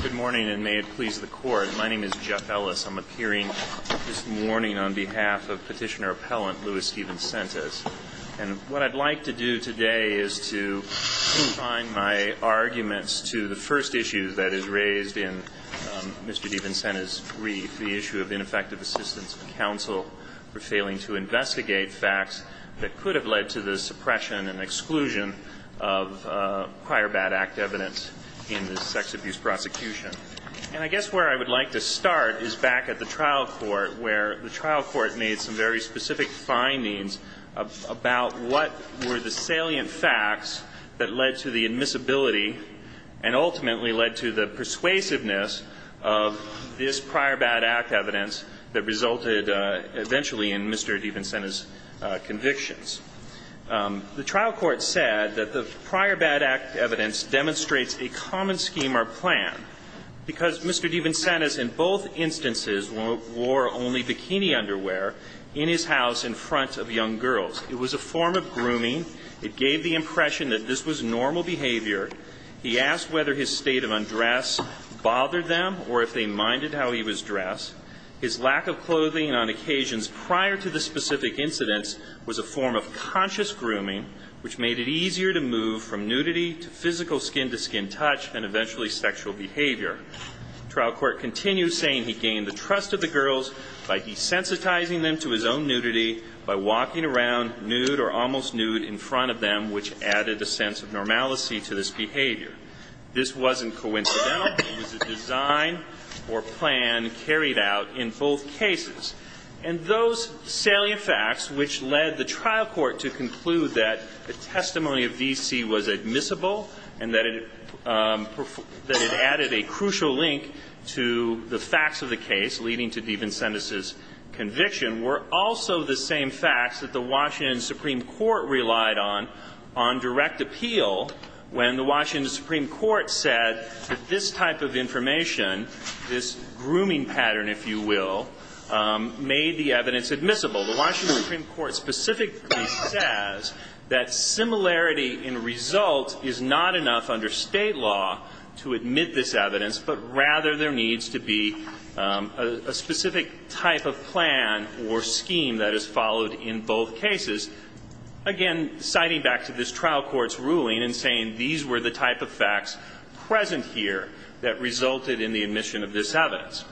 Good morning, and may it please the court. My name is Jeff Ellis. I'm appearing this morning on behalf of petitioner-appellant Louis DeVincentis. And what I'd like to do today is to confine my arguments to the first issue that is raised in Mr. DeVincentis' brief, the issue of ineffective assistance of counsel for failing to investigate facts that could have led to the suppression and exclusion of prior bad act evidence in the sex abuse prosecution. And I guess where I would like to start is back at the trial court where the trial court made some very specific findings about what were the salient facts that led to the admissibility and ultimately led to the persuasiveness of this prior bad act evidence that resulted eventually in Mr. DeVincentis' convictions. The trial court said that the prior bad act evidence demonstrates a common scheme or plan because Mr. DeVincentis in both instances wore only bikini underwear in his house in front of young girls. It was a form of grooming. It gave the impression that this was normal behavior. He asked whether his state of undress bothered them or if they minded how he was dressed. His lack of clothing on occasions prior to the specific incidents was a form of conscious grooming, which made it easier to move from nudity to physical skin-to-skin touch and eventually sexual behavior. The trial court continued saying he gained the trust of the girls by desensitizing them to his own nudity, by walking around nude or almost nude in front of them, which added a sense of normalcy to this behavior. This wasn't coincidental. It was a design or plan carried out in both cases. And those salient facts which led the trial court to conclude that the testimony of V.C. was admissible and that it added a crucial link to the facts of the case leading to DeVincentis' conviction were also the same facts that the Washington Supreme Court relied on on direct appeal when the Washington Supreme Court said that this type of information, this grooming pattern, if you will, made the evidence admissible. The Washington Supreme Court specifically says that similarity in result is not enough under state law to admit this evidence, but rather there needs to be a specific type of plan or scheme that is followed in both cases. Again, citing back to this trial court's ruling and saying these were the type of facts present here that resulted in the admission of this evidence.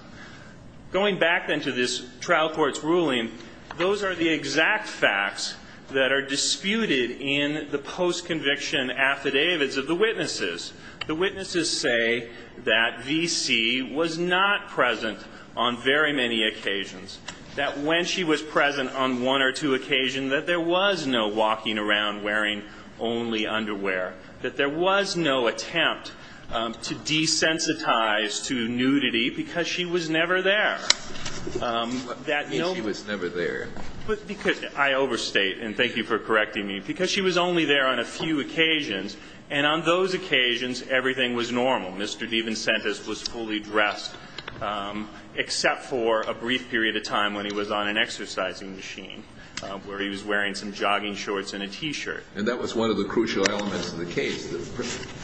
Going back then to this trial court's ruling, those are the exact facts that are disputed in the post-conviction affidavits of the witnesses. The witnesses say that V.C. was not present on very many occasions, that when she was present on one or two occasions that there was no walking around wearing only underwear, that there was no attempt to desensitize to nudity because she was never there. That no one was never there. I overstate, and thank you for correcting me, because she was only there on a few occasions, and on those occasions everything was normal. Mr. DeVincentis was fully dressed except for a brief period of time when he was on an exercising machine where he was wearing some jogging shorts and a T-shirt. And that was one of the crucial elements of the case,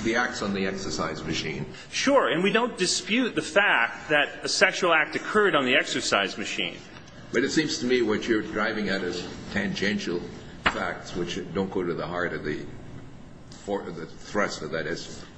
the acts on the exercise machine. Sure. And we don't dispute the fact that a sexual act occurred on the exercise machine. But it seems to me what you're driving at is tangential facts which don't go to the heart of the thrust of that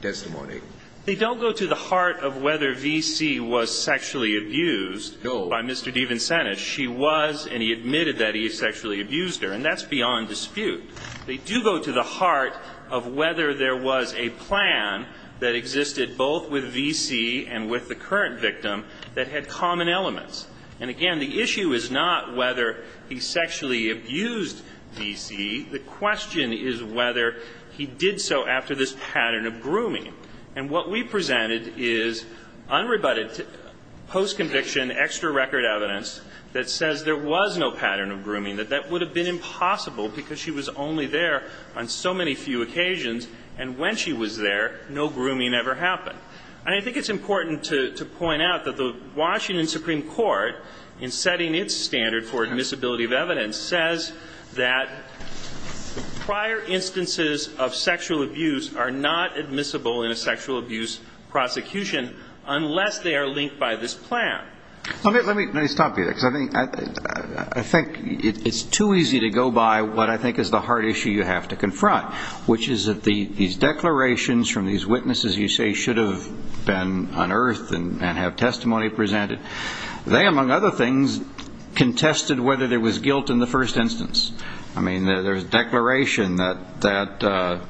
testimony. They don't go to the heart of whether V.C. was sexually abused by Mr. DeVincentis. She was, and he admitted that he sexually abused her. And that's beyond dispute. They do go to the heart of whether there was a plan that existed both with V.C. and with the current victim that had common elements. And, again, the issue is not whether he sexually abused V.C. The question is whether he did so after this pattern of grooming. And what we presented is unrebutted post-conviction extra record evidence that says there was no pattern of grooming, that that would have been impossible because she was only there on so many few occasions. And when she was there, no grooming ever happened. And I think it's important to point out that the Washington Supreme Court, in setting its standard for admissibility of evidence, says that prior instances of sexual abuse are not admissible in a sexual abuse prosecution unless they are linked by this plan. Let me stop you there because I think it's too easy to go by what I think is the hard issue you have to confront, which is that these declarations from these witnesses you say should have been unearthed and have testimony presented, they, among other things, contested whether there was guilt in the first instance. I mean, there's a declaration that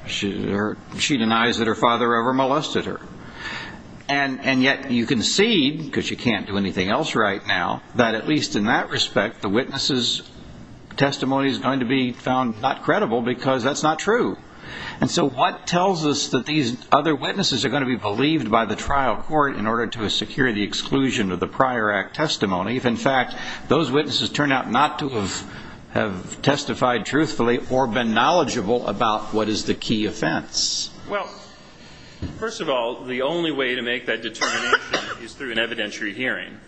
she denies that her father ever molested her. And yet you concede, because you can't do anything else right now, that at least in that respect the witness's testimony is going to be found not credible because that's not true. And so what tells us that these other witnesses are going to be believed by the trial court in order to secure the exclusion of the prior act testimony if, in fact, those witnesses turn out not to have testified truthfully or been knowledgeable about what is the key offense? Well, first of all, the only way to make that determination is through an evidentiary hearing.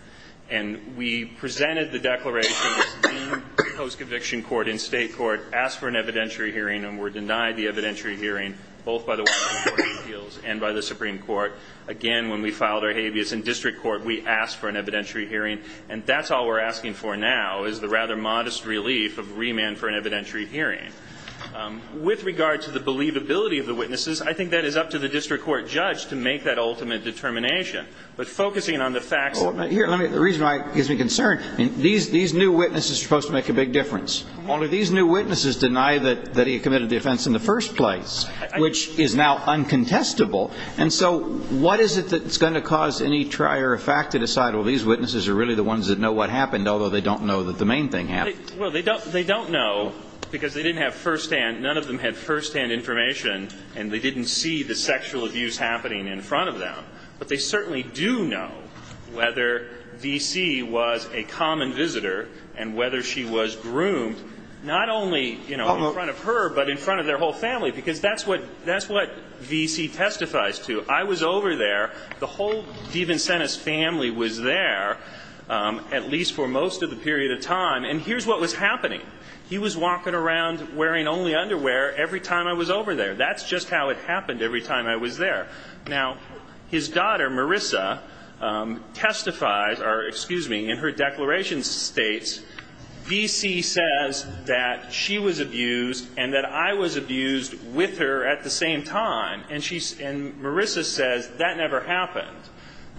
And we presented the declaration as deemed by the post-conviction court in state court, asked for an evidentiary hearing and were denied the evidentiary hearing both by the Washington Court of Appeals and by the Supreme Court. Again, when we filed our habeas in district court, we asked for an evidentiary hearing. And that's all we're asking for now is the rather modest relief of remand for an evidentiary hearing. With regard to the believability of the witnesses, I think that is up to the district court judge to make that ultimate determination. But focusing on the facts of the case. Well, here, the reason why it gives me concern, these new witnesses are supposed to make a big difference. Only these new witnesses deny that he committed the offense in the first place, which is now uncontestable. And so what is it that's going to cause any trier of fact to decide, well, these witnesses are really the ones that know what happened, although they don't know that the main thing happened? Well, they don't know because they didn't have firsthand, none of them had firsthand information and they didn't see the sexual abuse happening in front of them. But they certainly do know whether V.C. was a common visitor and whether she was groomed, not only in front of her, but in front of their whole family. Because that's what V.C. testifies to. I was over there. The whole Devencentis family was there, at least for most of the period of time. And here's what was happening. He was walking around wearing only underwear every time I was over there. That's just how it happened every time I was there. Now, his daughter, Marissa, testifies, or excuse me, in her declaration states, V.C. says that she was abused and that I was abused with her at the same time. And Marissa says, that never happened.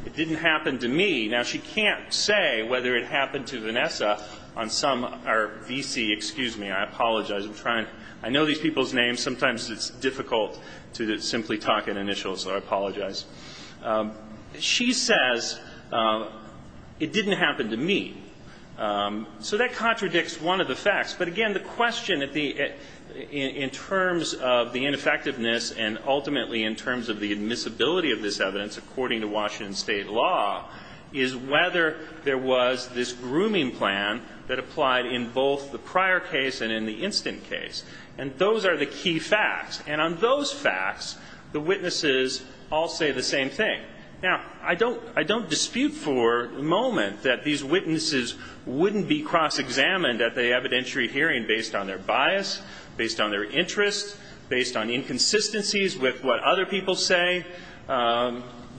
It didn't happen to me. Now, she can't say whether it happened to Vanessa on some, or V.C., excuse me, I apologize. I know these people's names. Sometimes it's difficult to simply talk in initials, so I apologize. She says, it didn't happen to me. So that contradicts one of the facts. But again, the question in terms of the ineffectiveness and ultimately in terms of the admissibility of this evidence, according to Washington State law, is whether there was this grooming plan that applied in both the prior case and in the instant case. And those are the key facts. And on those facts, the witnesses all say the same thing. Now, I don't dispute for a moment that these witnesses wouldn't be cross-examined at the evidentiary hearing based on their bias, based on their interests, based on inconsistencies with what other people say,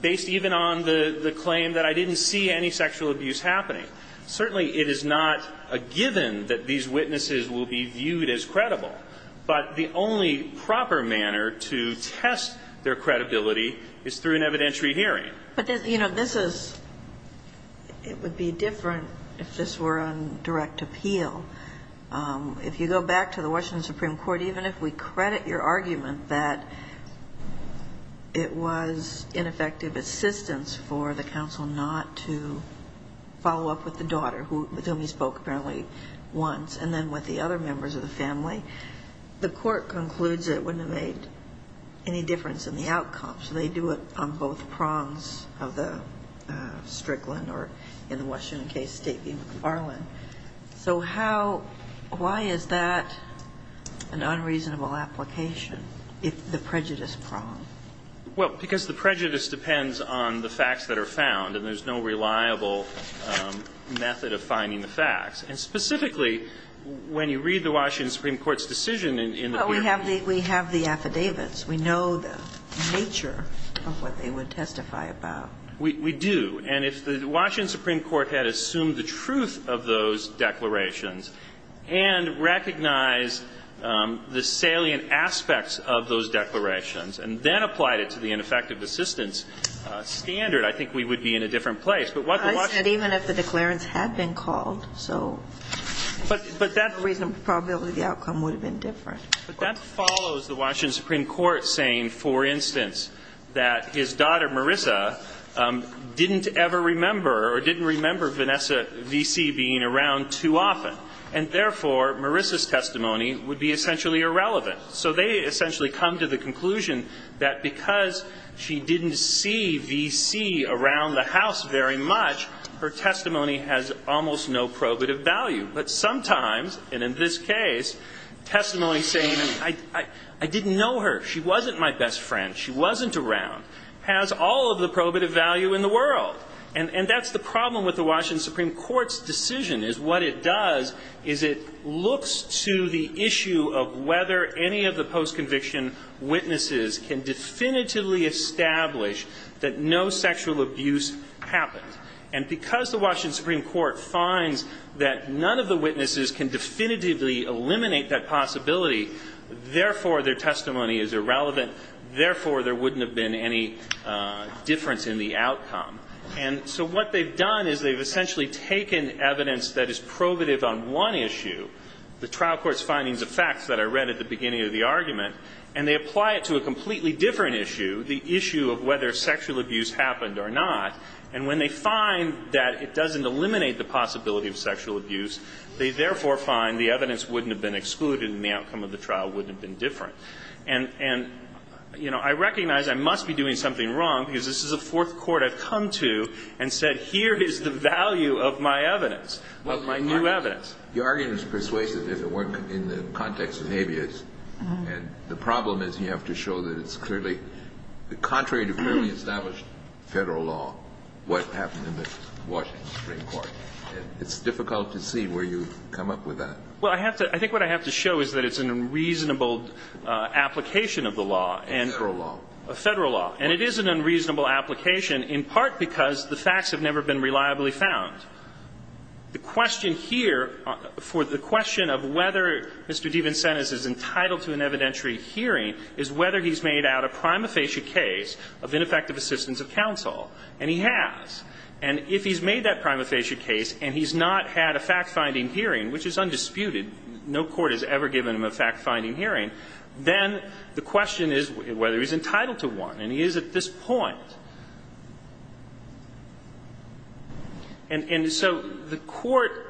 based even on the claim that I didn't see any sexual abuse happening. Certainly, it is not a given that these witnesses will be viewed as credible. But the only proper manner to test their credibility is through an evidentiary hearing. But, you know, this is, it would be different if this were on direct appeal. If you go back to the Washington Supreme Court, even if we credit your argument that it was ineffective assistance for the counsel not to follow up with the daughter, with whom he spoke apparently once, and then with the other members of the family, the Court concludes it wouldn't have made any difference in the outcome. So they do it on both prongs of the Strickland or, in the Washington case, State v. McFarland. So how, why is that an unreasonable application, the prejudice prong? Well, because the prejudice depends on the facts that are found, and there's no reliable method of finding the facts. And specifically, when you read the Washington Supreme Court's decision in the peer review. But we have the affidavits. We know the nature of what they would testify about. We do. And if the Washington Supreme Court had assumed the truth of those declarations and recognized the salient aspects of those declarations and then applied it to the ineffective assistance standard, I think we would be in a different place. I said even if the declarants had been called, so the reasonable probability of the outcome would have been different. But that follows the Washington Supreme Court saying, for instance, that his daughter, Marissa, didn't ever remember or didn't remember Vanessa V.C. being around too often. And therefore, Marissa's testimony would be essentially irrelevant. So they essentially come to the conclusion that because she didn't see V.C. around the House very much, her testimony has almost no probative value. But sometimes, and in this case, testimony saying, I didn't know her, she wasn't my best friend, she wasn't around, has all of the probative value in the world. And that's the problem with the Washington Supreme Court's decision is what it does is it looks to the issue of whether any of the post-conviction witnesses can definitively establish that no sexual abuse happened. And because the Washington Supreme Court finds that none of the witnesses can definitively eliminate that possibility, therefore their testimony is irrelevant, therefore there wouldn't have been any difference in the outcome. And so what they've done is they've essentially taken evidence that is probative on one issue, the trial court's findings of facts that I read at the beginning of the argument, and they apply it to a completely different issue, the issue of whether sexual abuse happened or not, and when they find that it doesn't eliminate the possibility of sexual abuse, they therefore find the evidence wouldn't have been excluded and the outcome of the trial wouldn't have been different. And, you know, I recognize I must be doing something wrong because this is the fourth court I've come to and said here is the value of my evidence, of my new evidence. The argument is persuasive if it weren't in the context of habeas. And the problem is you have to show that it's clearly contrary to clearly established Federal law what happened in the Washington Supreme Court. It's difficult to see where you've come up with that. Well, I have to – I think what I have to show is that it's an unreasonable application of the law. A Federal law. A Federal law. And it is an unreasonable application in part because the facts have never been reliably found. The question here for the question of whether Mr. Devensen is entitled to an evidentiary hearing is whether he's made out a prima facie case of ineffective assistance of counsel. And he has. And if he's made that prima facie case and he's not had a fact-finding hearing, which is undisputed, no court has ever given him a fact-finding hearing, then the question is whether he's entitled to one. And he is at this point. And so the Court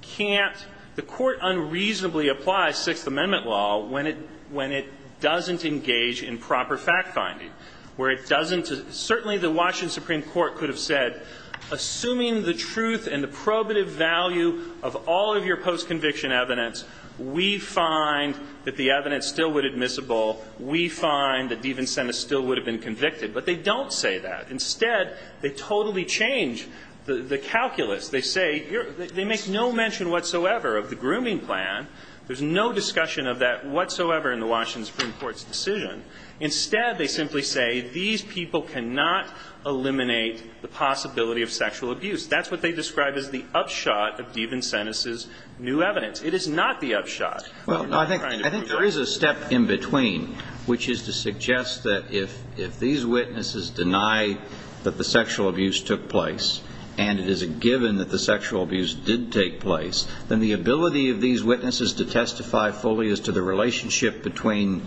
can't – the Court unreasonably applies Sixth Amendment law when it doesn't engage in proper fact-finding, where it doesn't – certainly the Washington Supreme Court could have said, assuming the truth and the probative value of all of your post-conviction evidence, we find that the evidence still would admissible. We find that Devensenis still would have been convicted. But they don't say that. Instead, they totally change the calculus. They say you're – they make no mention whatsoever of the grooming plan. There's no discussion of that whatsoever in the Washington Supreme Court's decision. Instead, they simply say these people cannot eliminate the possibility of sexual abuse. That's what they describe as the upshot of Devensenis' new evidence. It is not the upshot. I'm not trying to prove that. Well, no, I think there is a step in between, which is to suggest that if these witnesses deny that the sexual abuse took place, and it is a given that the sexual abuse did take place, then the ability of these witnesses to testify fully as to the relationship between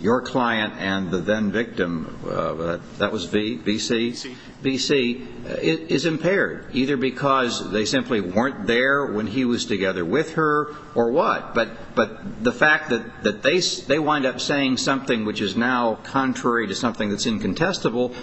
your client and the then-victim – that was V? V.C.? C. V.C. – is impaired, either because they simply weren't there when he was together with her or what. But the fact that they wind up saying something which is now contrary to something that's incontestable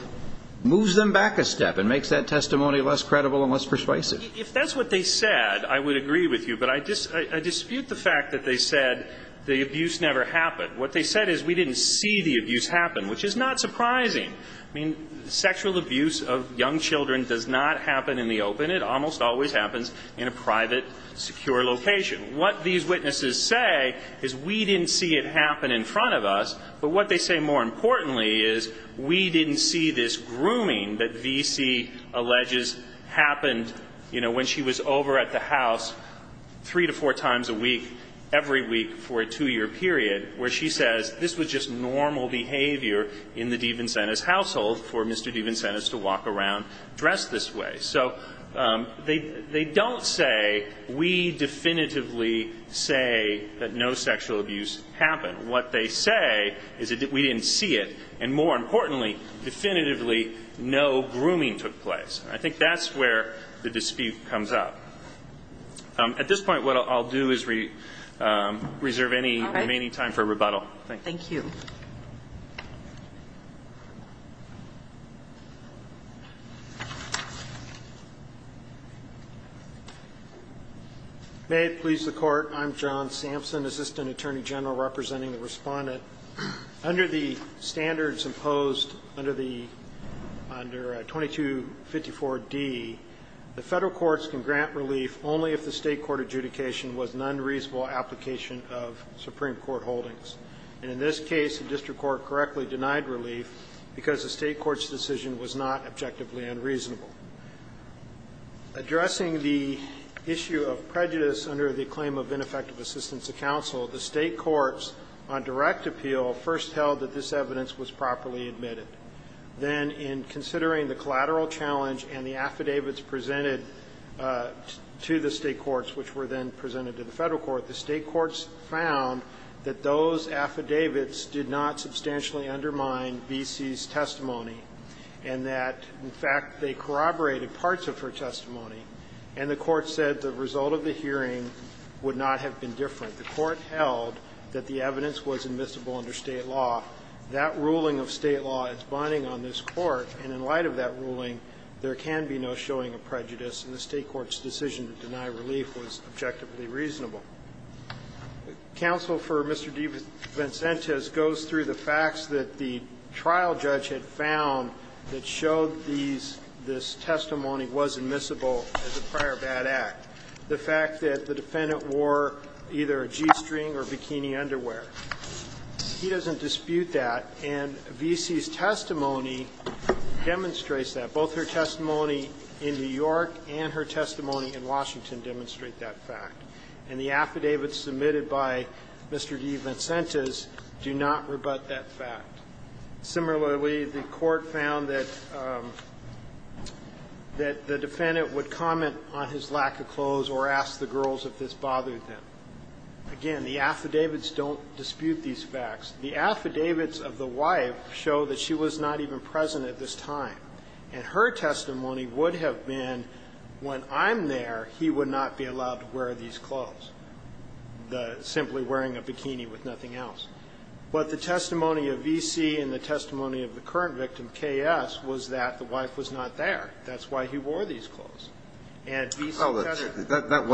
moves them back a step and makes that testimony less credible and less persuasive. If that's what they said, I would agree with you. But I dispute the fact that they said the abuse never happened. What they said is we didn't see the abuse happen, which is not surprising. I mean, sexual abuse of young children does not happen in the open. It almost always happens in a private, secure location. What these witnesses say is we didn't see it happen in front of us. But what they say, more importantly, is we didn't see this grooming that V?C. alleges happened, you know, when she was over at the house three to four times a week, every week for a two-year period, where she says this was just normal behavior in the Devencentis household for Mr. Devencentis to walk around dressed this way. So they don't say we definitively say that no sexual abuse happened. What they say is that we didn't see it, and more importantly, definitively, no grooming took place. I think that's where the dispute comes up. At this point, what I'll do is reserve any remaining time for rebuttal. Thank you. May it please the Court. I'm John Sampson, Assistant Attorney General, representing the Respondent. Under the standards imposed under the 2254d, the Federal courts can grant relief only if the State court adjudication was an unreasonable application of Supreme Court holdings. And in this case, the District Court correctly denied relief because the State court's decision was not objectively unreasonable. Addressing the issue of prejudice under the claim of ineffective assistance to counsel, the State courts, on direct appeal, first held that this evidence was properly admitted. Then, in considering the collateral challenge and the affidavits presented to the Court, that those affidavits did not substantially undermine B.C.'s testimony and that, in fact, they corroborated parts of her testimony. And the Court said the result of the hearing would not have been different. The Court held that the evidence was admissible under State law. That ruling of State law is binding on this Court. And in light of that ruling, there can be no showing of prejudice. And the State court's decision to deny relief was objectively reasonable. Counsel for Mr. DeVincente goes through the facts that the trial judge had found that showed these this testimony was admissible as a prior bad act. The fact that the defendant wore either a G-string or bikini underwear. He doesn't dispute that. And B.C.'s testimony demonstrates that. Both her testimony in New York and her testimony in Washington demonstrate that fact. And the affidavits submitted by Mr. DeVincente's do not rebut that fact. Similarly, the Court found that the defendant would comment on his lack of clothes or ask the girls if this bothered them. Again, the affidavits don't dispute these facts. The affidavits of the wife show that she was not even present at this time. And her testimony would have been when I'm there, he would not be allowed to wear these clothes, simply wearing a bikini with nothing else. But the testimony of V.C. and the testimony of the current victim, K.S., was that the wife was not there. That's why he wore these clothes. And V.C. said it. That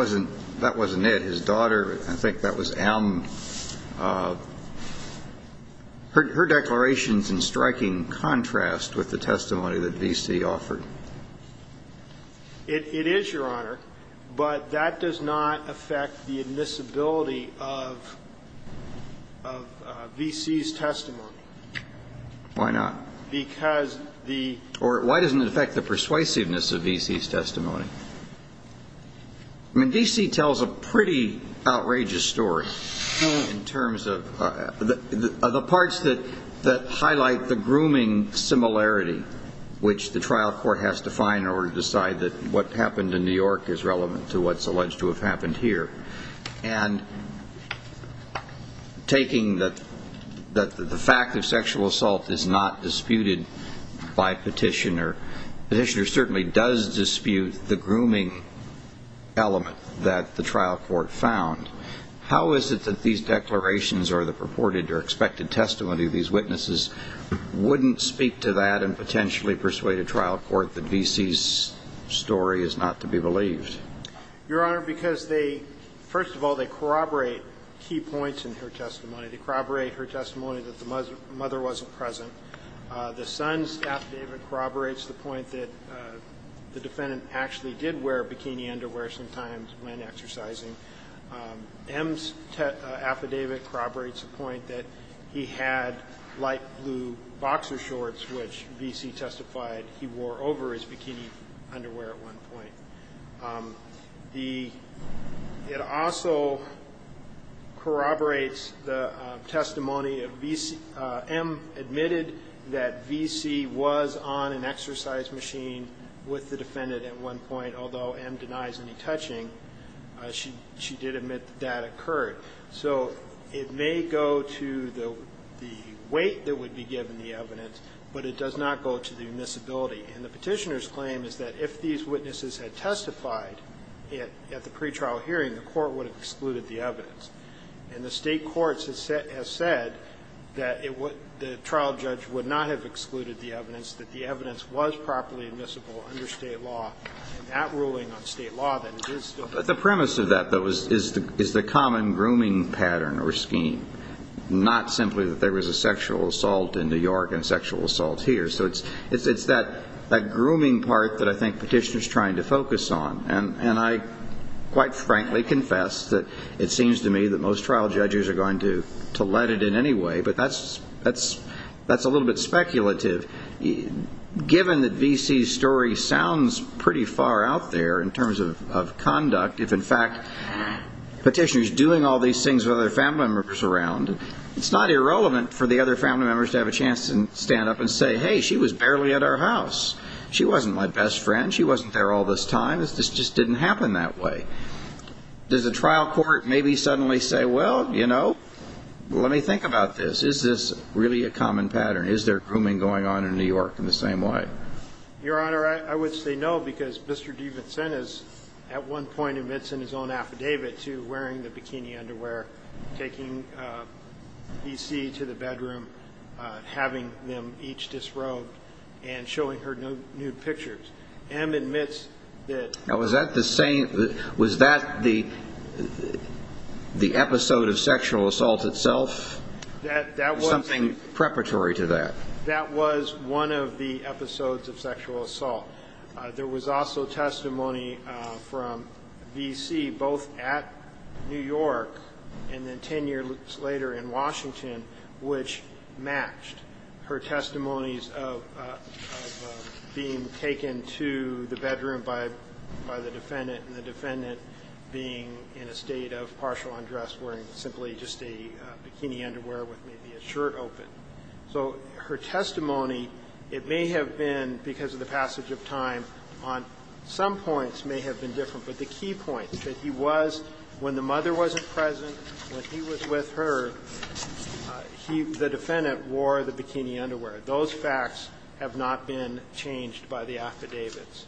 wasn't it. His daughter, I think that was M. Her declaration is in striking contrast with the testimony that V.C. offered. It is, Your Honor, but that does not affect the admissibility of V.C.'s testimony. Why not? Because the ---- Or why doesn't it affect the persuasiveness of V.C.'s testimony? I mean, V.C. tells a pretty outrageous story. In terms of the parts that highlight the grooming similarity, which the trial court has to find in order to decide that what happened in New York is relevant to what's alleged to have happened here, and taking that the fact of sexual assault is not disputed by Petitioner, Petitioner certainly does dispute the grooming element that the trial court found. How is it that these declarations or the purported or expected testimony of these witnesses wouldn't speak to that and potentially persuade a trial court that V.C.'s story is not to be believed? Your Honor, because they ---- First of all, they corroborate key points in her testimony. They corroborate her testimony that the mother wasn't present. The son's affidavit corroborates the point that the defendant actually did wear bikini underwear sometimes when exercising. M's affidavit corroborates the point that he had light blue boxer shorts, which V.C. testified he wore over his bikini underwear at one point. It also corroborates the testimony of V.C. M admitted that V.C. was on an exercise machine with the defendant at one point, and although M denies any touching, she did admit that that occurred. So it may go to the weight that would be given the evidence, but it does not go to the admissibility. And the Petitioner's claim is that if these witnesses had testified at the pretrial hearing, the court would have excluded the evidence. And the State courts have said that the trial judge would not have excluded the evidence, that the evidence was properly admissible under State law. In that ruling on State law, then, it is still true. But the premise of that, though, is the common grooming pattern or scheme, not simply that there was a sexual assault in New York and sexual assault here. So it's that grooming part that I think Petitioner's trying to focus on. And I quite frankly confess that it seems to me that most trial judges are going to let it in anyway, but that's a little bit speculative. Given that V.C.'s story sounds pretty far out there in terms of conduct, if in fact Petitioner's doing all these things with other family members around, it's not irrelevant for the other family members to have a chance to stand up and say, hey, she was barely at our house. She wasn't my best friend. She wasn't there all this time. This just didn't happen that way. Does the trial court maybe suddenly say, well, you know, let me think about this. Is this really a common pattern? Is there grooming going on in New York in the same way? Your Honor, I would say no, because Mr. D. Vincennes at one point admits in his own affidavit to wearing the bikini underwear, taking V.C. to the bedroom, having them each disrobed, and showing her nude pictures. M. admits that. Now, was that the episode of sexual assault itself? Was something preparatory to that? That was one of the episodes of sexual assault. There was also testimony from V.C. both at New York and then 10 years later in Washington which matched her testimonies of being taken to the bedroom by the defendant and the defendant being in a state of partial undress, wearing simply just a bikini underwear with maybe a shirt open. So her testimony, it may have been because of the passage of time, on some points may have been different. But the key point is that he was, when the mother wasn't present, when he was with her, he, the defendant, wore the bikini underwear. Those facts have not been changed by the affidavits.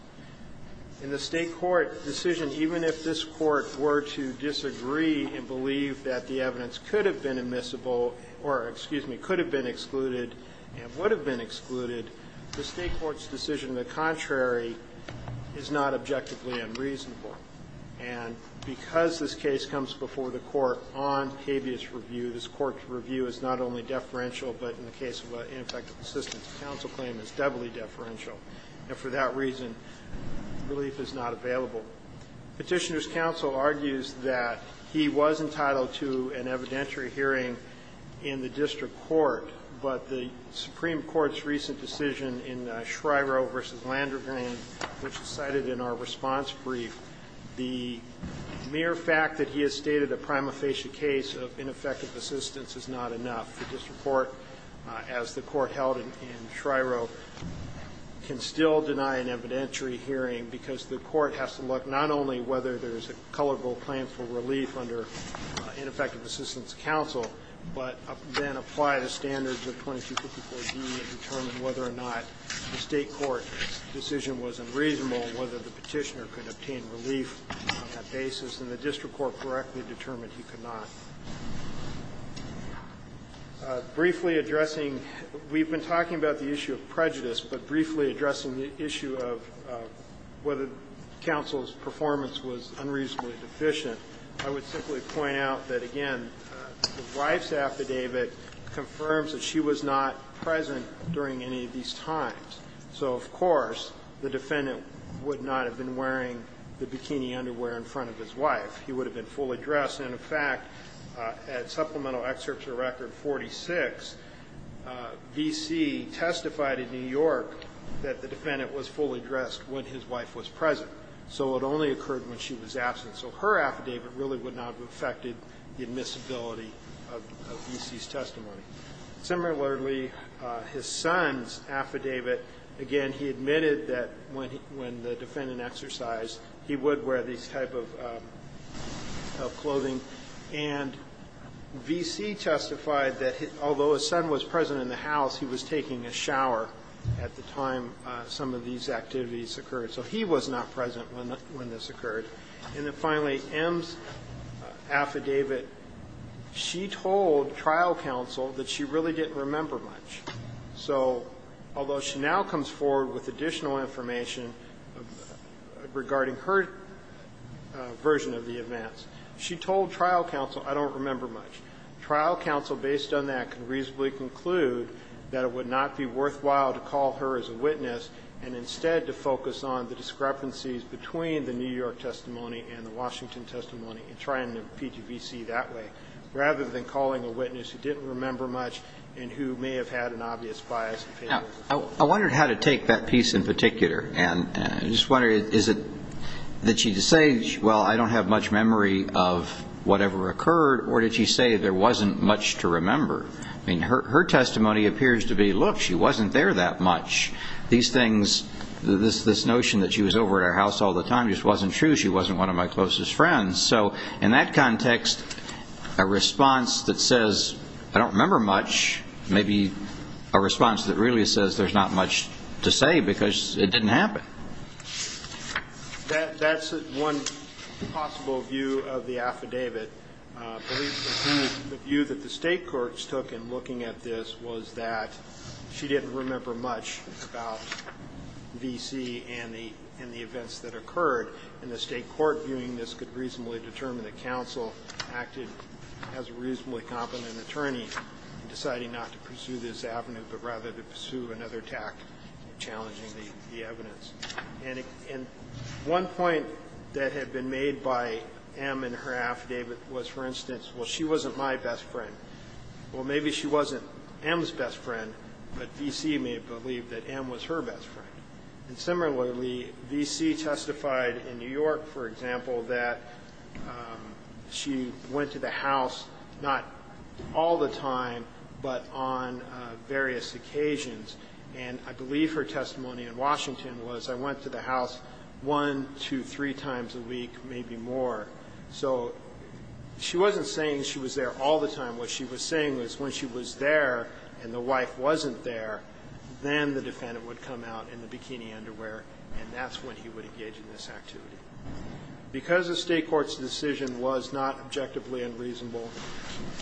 In the State court decision, even if this court were to disagree and believe that the evidence could have been admissible or, excuse me, could have been excluded and would have been excluded, the State court's decision to the contrary is not objectively unreasonable. And because this case comes before the court on habeas review, this court's review is not only deferential, but in the case of an ineffective assistance counsel claim is doubly deferential. And for that reason, relief is not available. Petitioner's counsel argues that he was entitled to an evidentiary hearing in the district court, but the Supreme Court's recent decision in Shryro v. Landrigan, which is cited in our response brief, the mere fact that he has stated a prima facie case of ineffective assistance is not enough. The district court, as the court held in Shryro, can still deny an evidentiary hearing because the court has to look not only whether there's a colorable claim for relief under ineffective assistance counsel, but then apply the standards of 2254D and determine whether or not the State court decision was unreasonable and whether the petitioner could obtain relief on that basis. And the district court correctly determined he could not. Briefly addressing, we've been talking about the issue of prejudice, but briefly addressing the issue of whether counsel's performance was unreasonably deficient, I would simply point out that, again, the wife's affidavit confirms that she was not present during any of these times. So, of course, the defendant would not have been wearing the bikini underwear in front of his wife. He would have been fully dressed. And, in fact, at Supplemental Excerpt to Record 46, V.C. testified in New York that the defendant was fully dressed when his wife was present. So it only occurred when she was absent. So her affidavit really would not have affected the admissibility of V.C.'s testimony. Similarly, his son's affidavit, again, he admitted that when the defendant exercised, he would wear these type of clothing. And V.C. testified that, although his son was present in the house, he was taking a shower at the time some of these activities occurred. So he was not present when this occurred. And then, finally, M's affidavit, she told trial counsel that she really didn't remember much. So although she now comes forward with additional information regarding her version of the events, she told trial counsel, I don't remember much. Trial counsel, based on that, can reasonably conclude that it would not be worthwhile to call her as a witness and instead to focus on the discrepancies between the New York testimony and the Washington testimony and try and impede V.C. that way, rather than calling a witness who didn't remember much and who may have had an obvious bias in favor of the court. Now, I wondered how to take that piece in particular. And I just wondered, is it that she's saying, well, I don't have much memory of whatever occurred, or did she say there wasn't much to remember? I mean, her testimony appears to be, look, she wasn't there that much. These things, this notion that she was over at our house all the time just wasn't true. She wasn't one of my closest friends. So in that context, a response that says, I don't remember much, may be a response that really says there's not much to say because it didn't happen. That's one possible view of the affidavit. The view that the state courts took in looking at this was that she didn't remember much about V.C. and the events that occurred, and the state court viewing this could reasonably determine that counsel acted as a reasonably competent attorney in deciding not to pursue this avenue, but rather to pursue another tact challenging the evidence. And one point that had been made by M in her affidavit was, for instance, well, she wasn't my best friend. Well, maybe she wasn't M's best friend, but V.C. may believe that M was her best friend. And similarly, V.C. testified in New York, for example, that she went to the house not all the time, but on various occasions. And I believe her testimony in Washington was, I went to the house one, two, three times a week, maybe more. So she wasn't saying she was there all the time. What she was saying was when she was there and the wife wasn't there, then the defendant would come out in the bikini underwear, and that's when he would engage in this activity. Because the state court's decision was not objectively unreasonable,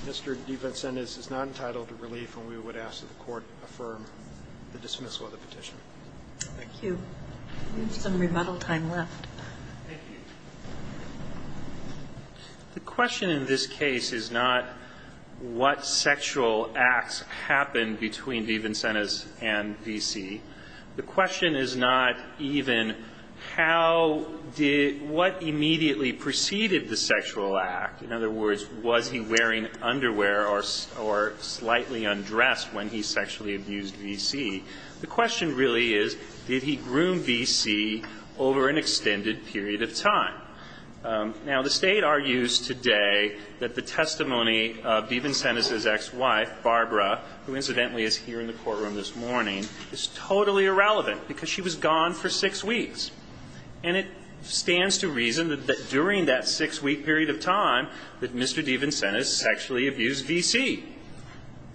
Mr. DeVincenis is not entitled to relief, and we would ask that the Court affirm the dismissal of the petition. Thank you. We have some remittal time left. Thank you. The question in this case is not what sexual acts happened between DeVincenis and V.C. The question is not even how did, what immediately preceded the sexual act. In other words, was he wearing underwear or slightly undressed when he sexually abused V.C. The question really is did he groom V.C. over an extended period of time. Now, the State argues today that the testimony of DeVincenis' ex-wife, Barbara, who incidentally is here in the courtroom this morning, is totally irrelevant because she was gone for six weeks. And it stands to reason that during that six-week period of time that Mr. DeVincenis sexually abused V.C.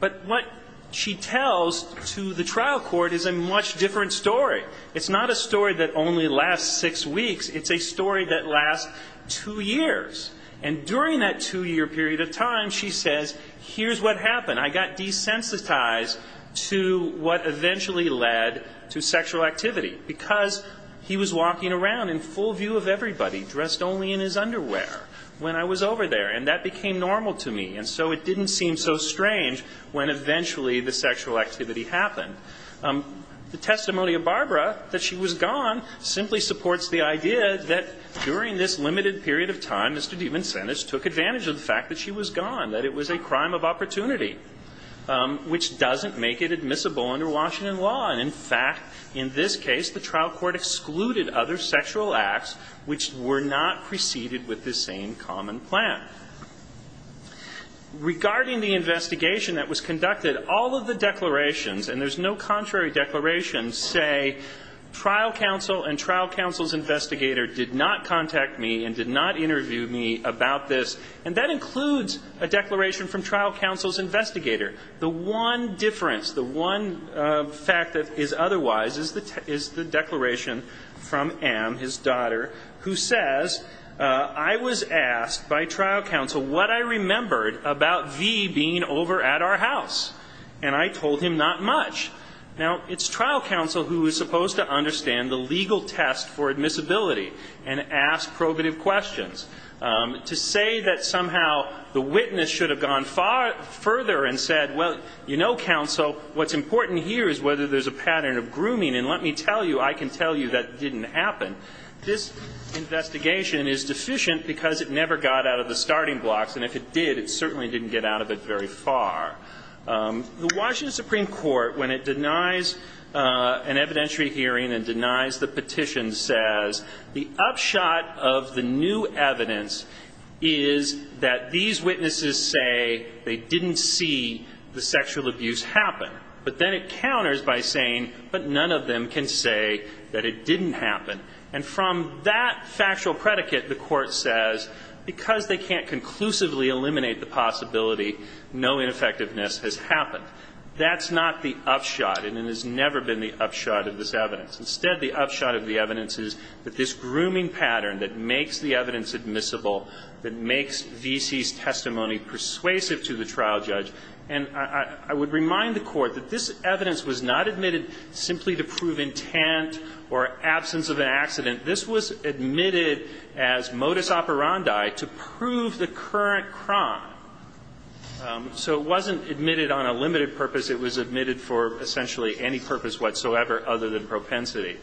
But what she tells to the trial court is a much different story. It's not a story that only lasts six weeks. It's a story that lasts two years. And during that two-year period of time, she says, here's what happened. I got desensitized to what eventually led to sexual activity because he was walking around in full view of everybody, dressed only in his underwear when I was over there, and that became normal to me. And so it didn't seem so strange when eventually the sexual activity happened. The testimony of Barbara, that she was gone, simply supports the idea that during this limited period of time, Mr. DeVincenis took advantage of the fact that she was gone, that it was a crime of opportunity, which doesn't make it admissible under Washington law. And in fact, in this case, the trial court excluded other sexual acts which were not preceded with this same common plan. Regarding the investigation that was conducted, all of the declarations, and there's no contrary declaration, say trial counsel and trial counsel's investigator did not contact me and did not interview me about this. And that includes a declaration from trial counsel's investigator. The one difference, the one fact that is otherwise is the declaration from M, his daughter, who says, I was asked by trial counsel what I remembered about V being over at our house, and I told him not much. Now, it's trial counsel who is supposed to understand the legal test for admissibility and ask probative questions. To say that somehow the witness should have gone further and said, well, you know, counsel, what's important here is whether there's a pattern of grooming, and let me tell you, I can tell you that didn't happen. This investigation is deficient because it never got out of the starting blocks, and if it did, it certainly didn't get out of it very far. The Washington Supreme Court, when it denies an evidentiary hearing and denies the petition, says the upshot of the new evidence is that these witnesses say they didn't see the sexual abuse happen. But then it counters by saying, but none of them can say that it didn't happen. And from that factual predicate, the Court says, because they can't conclusively eliminate the possibility, no ineffectiveness has happened. That's not the upshot, and it has never been the upshot of this evidence. Instead, the upshot of the evidence is that this grooming pattern that makes the evidence admissible, that makes V.C.'s testimony persuasive to the trial judge, and I would remind the Court that this evidence was not admitted simply to prove intent or absence of an accident. This was admitted as modus operandi to prove the current crime. So it wasn't admitted on a limited purpose. It was admitted for essentially any purpose whatsoever other than propensity.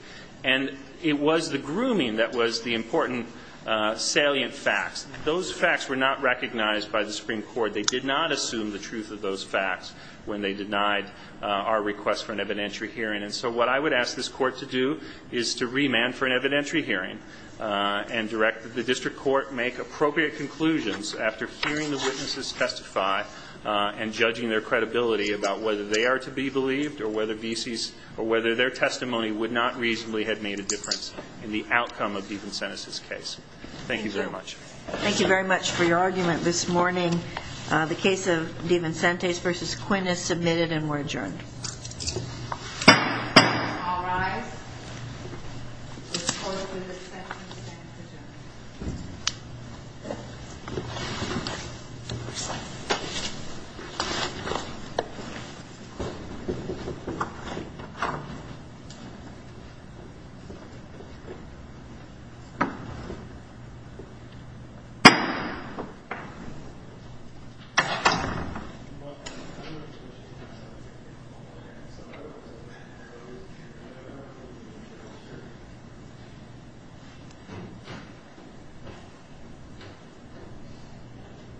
And it was the grooming that was the important salient facts. Those facts were not recognized by the Supreme Court. They did not assume the truth of those facts when they denied our request for an evidentiary hearing. And so what I would ask this Court to do is to remand for an evidentiary hearing and direct the district court to make appropriate conclusions after hearing the witnesses testify and judging their credibility about whether they are to be believed or whether V.C.'s or whether their testimony would not reasonably have made a difference in the outcome of Devensenis' case. Thank you very much. Thank you very much for your argument this morning. The case of Devensenis v. Quinn is submitted and we're adjourned. All rise. The case of Devensenis v. Quinn is submitted.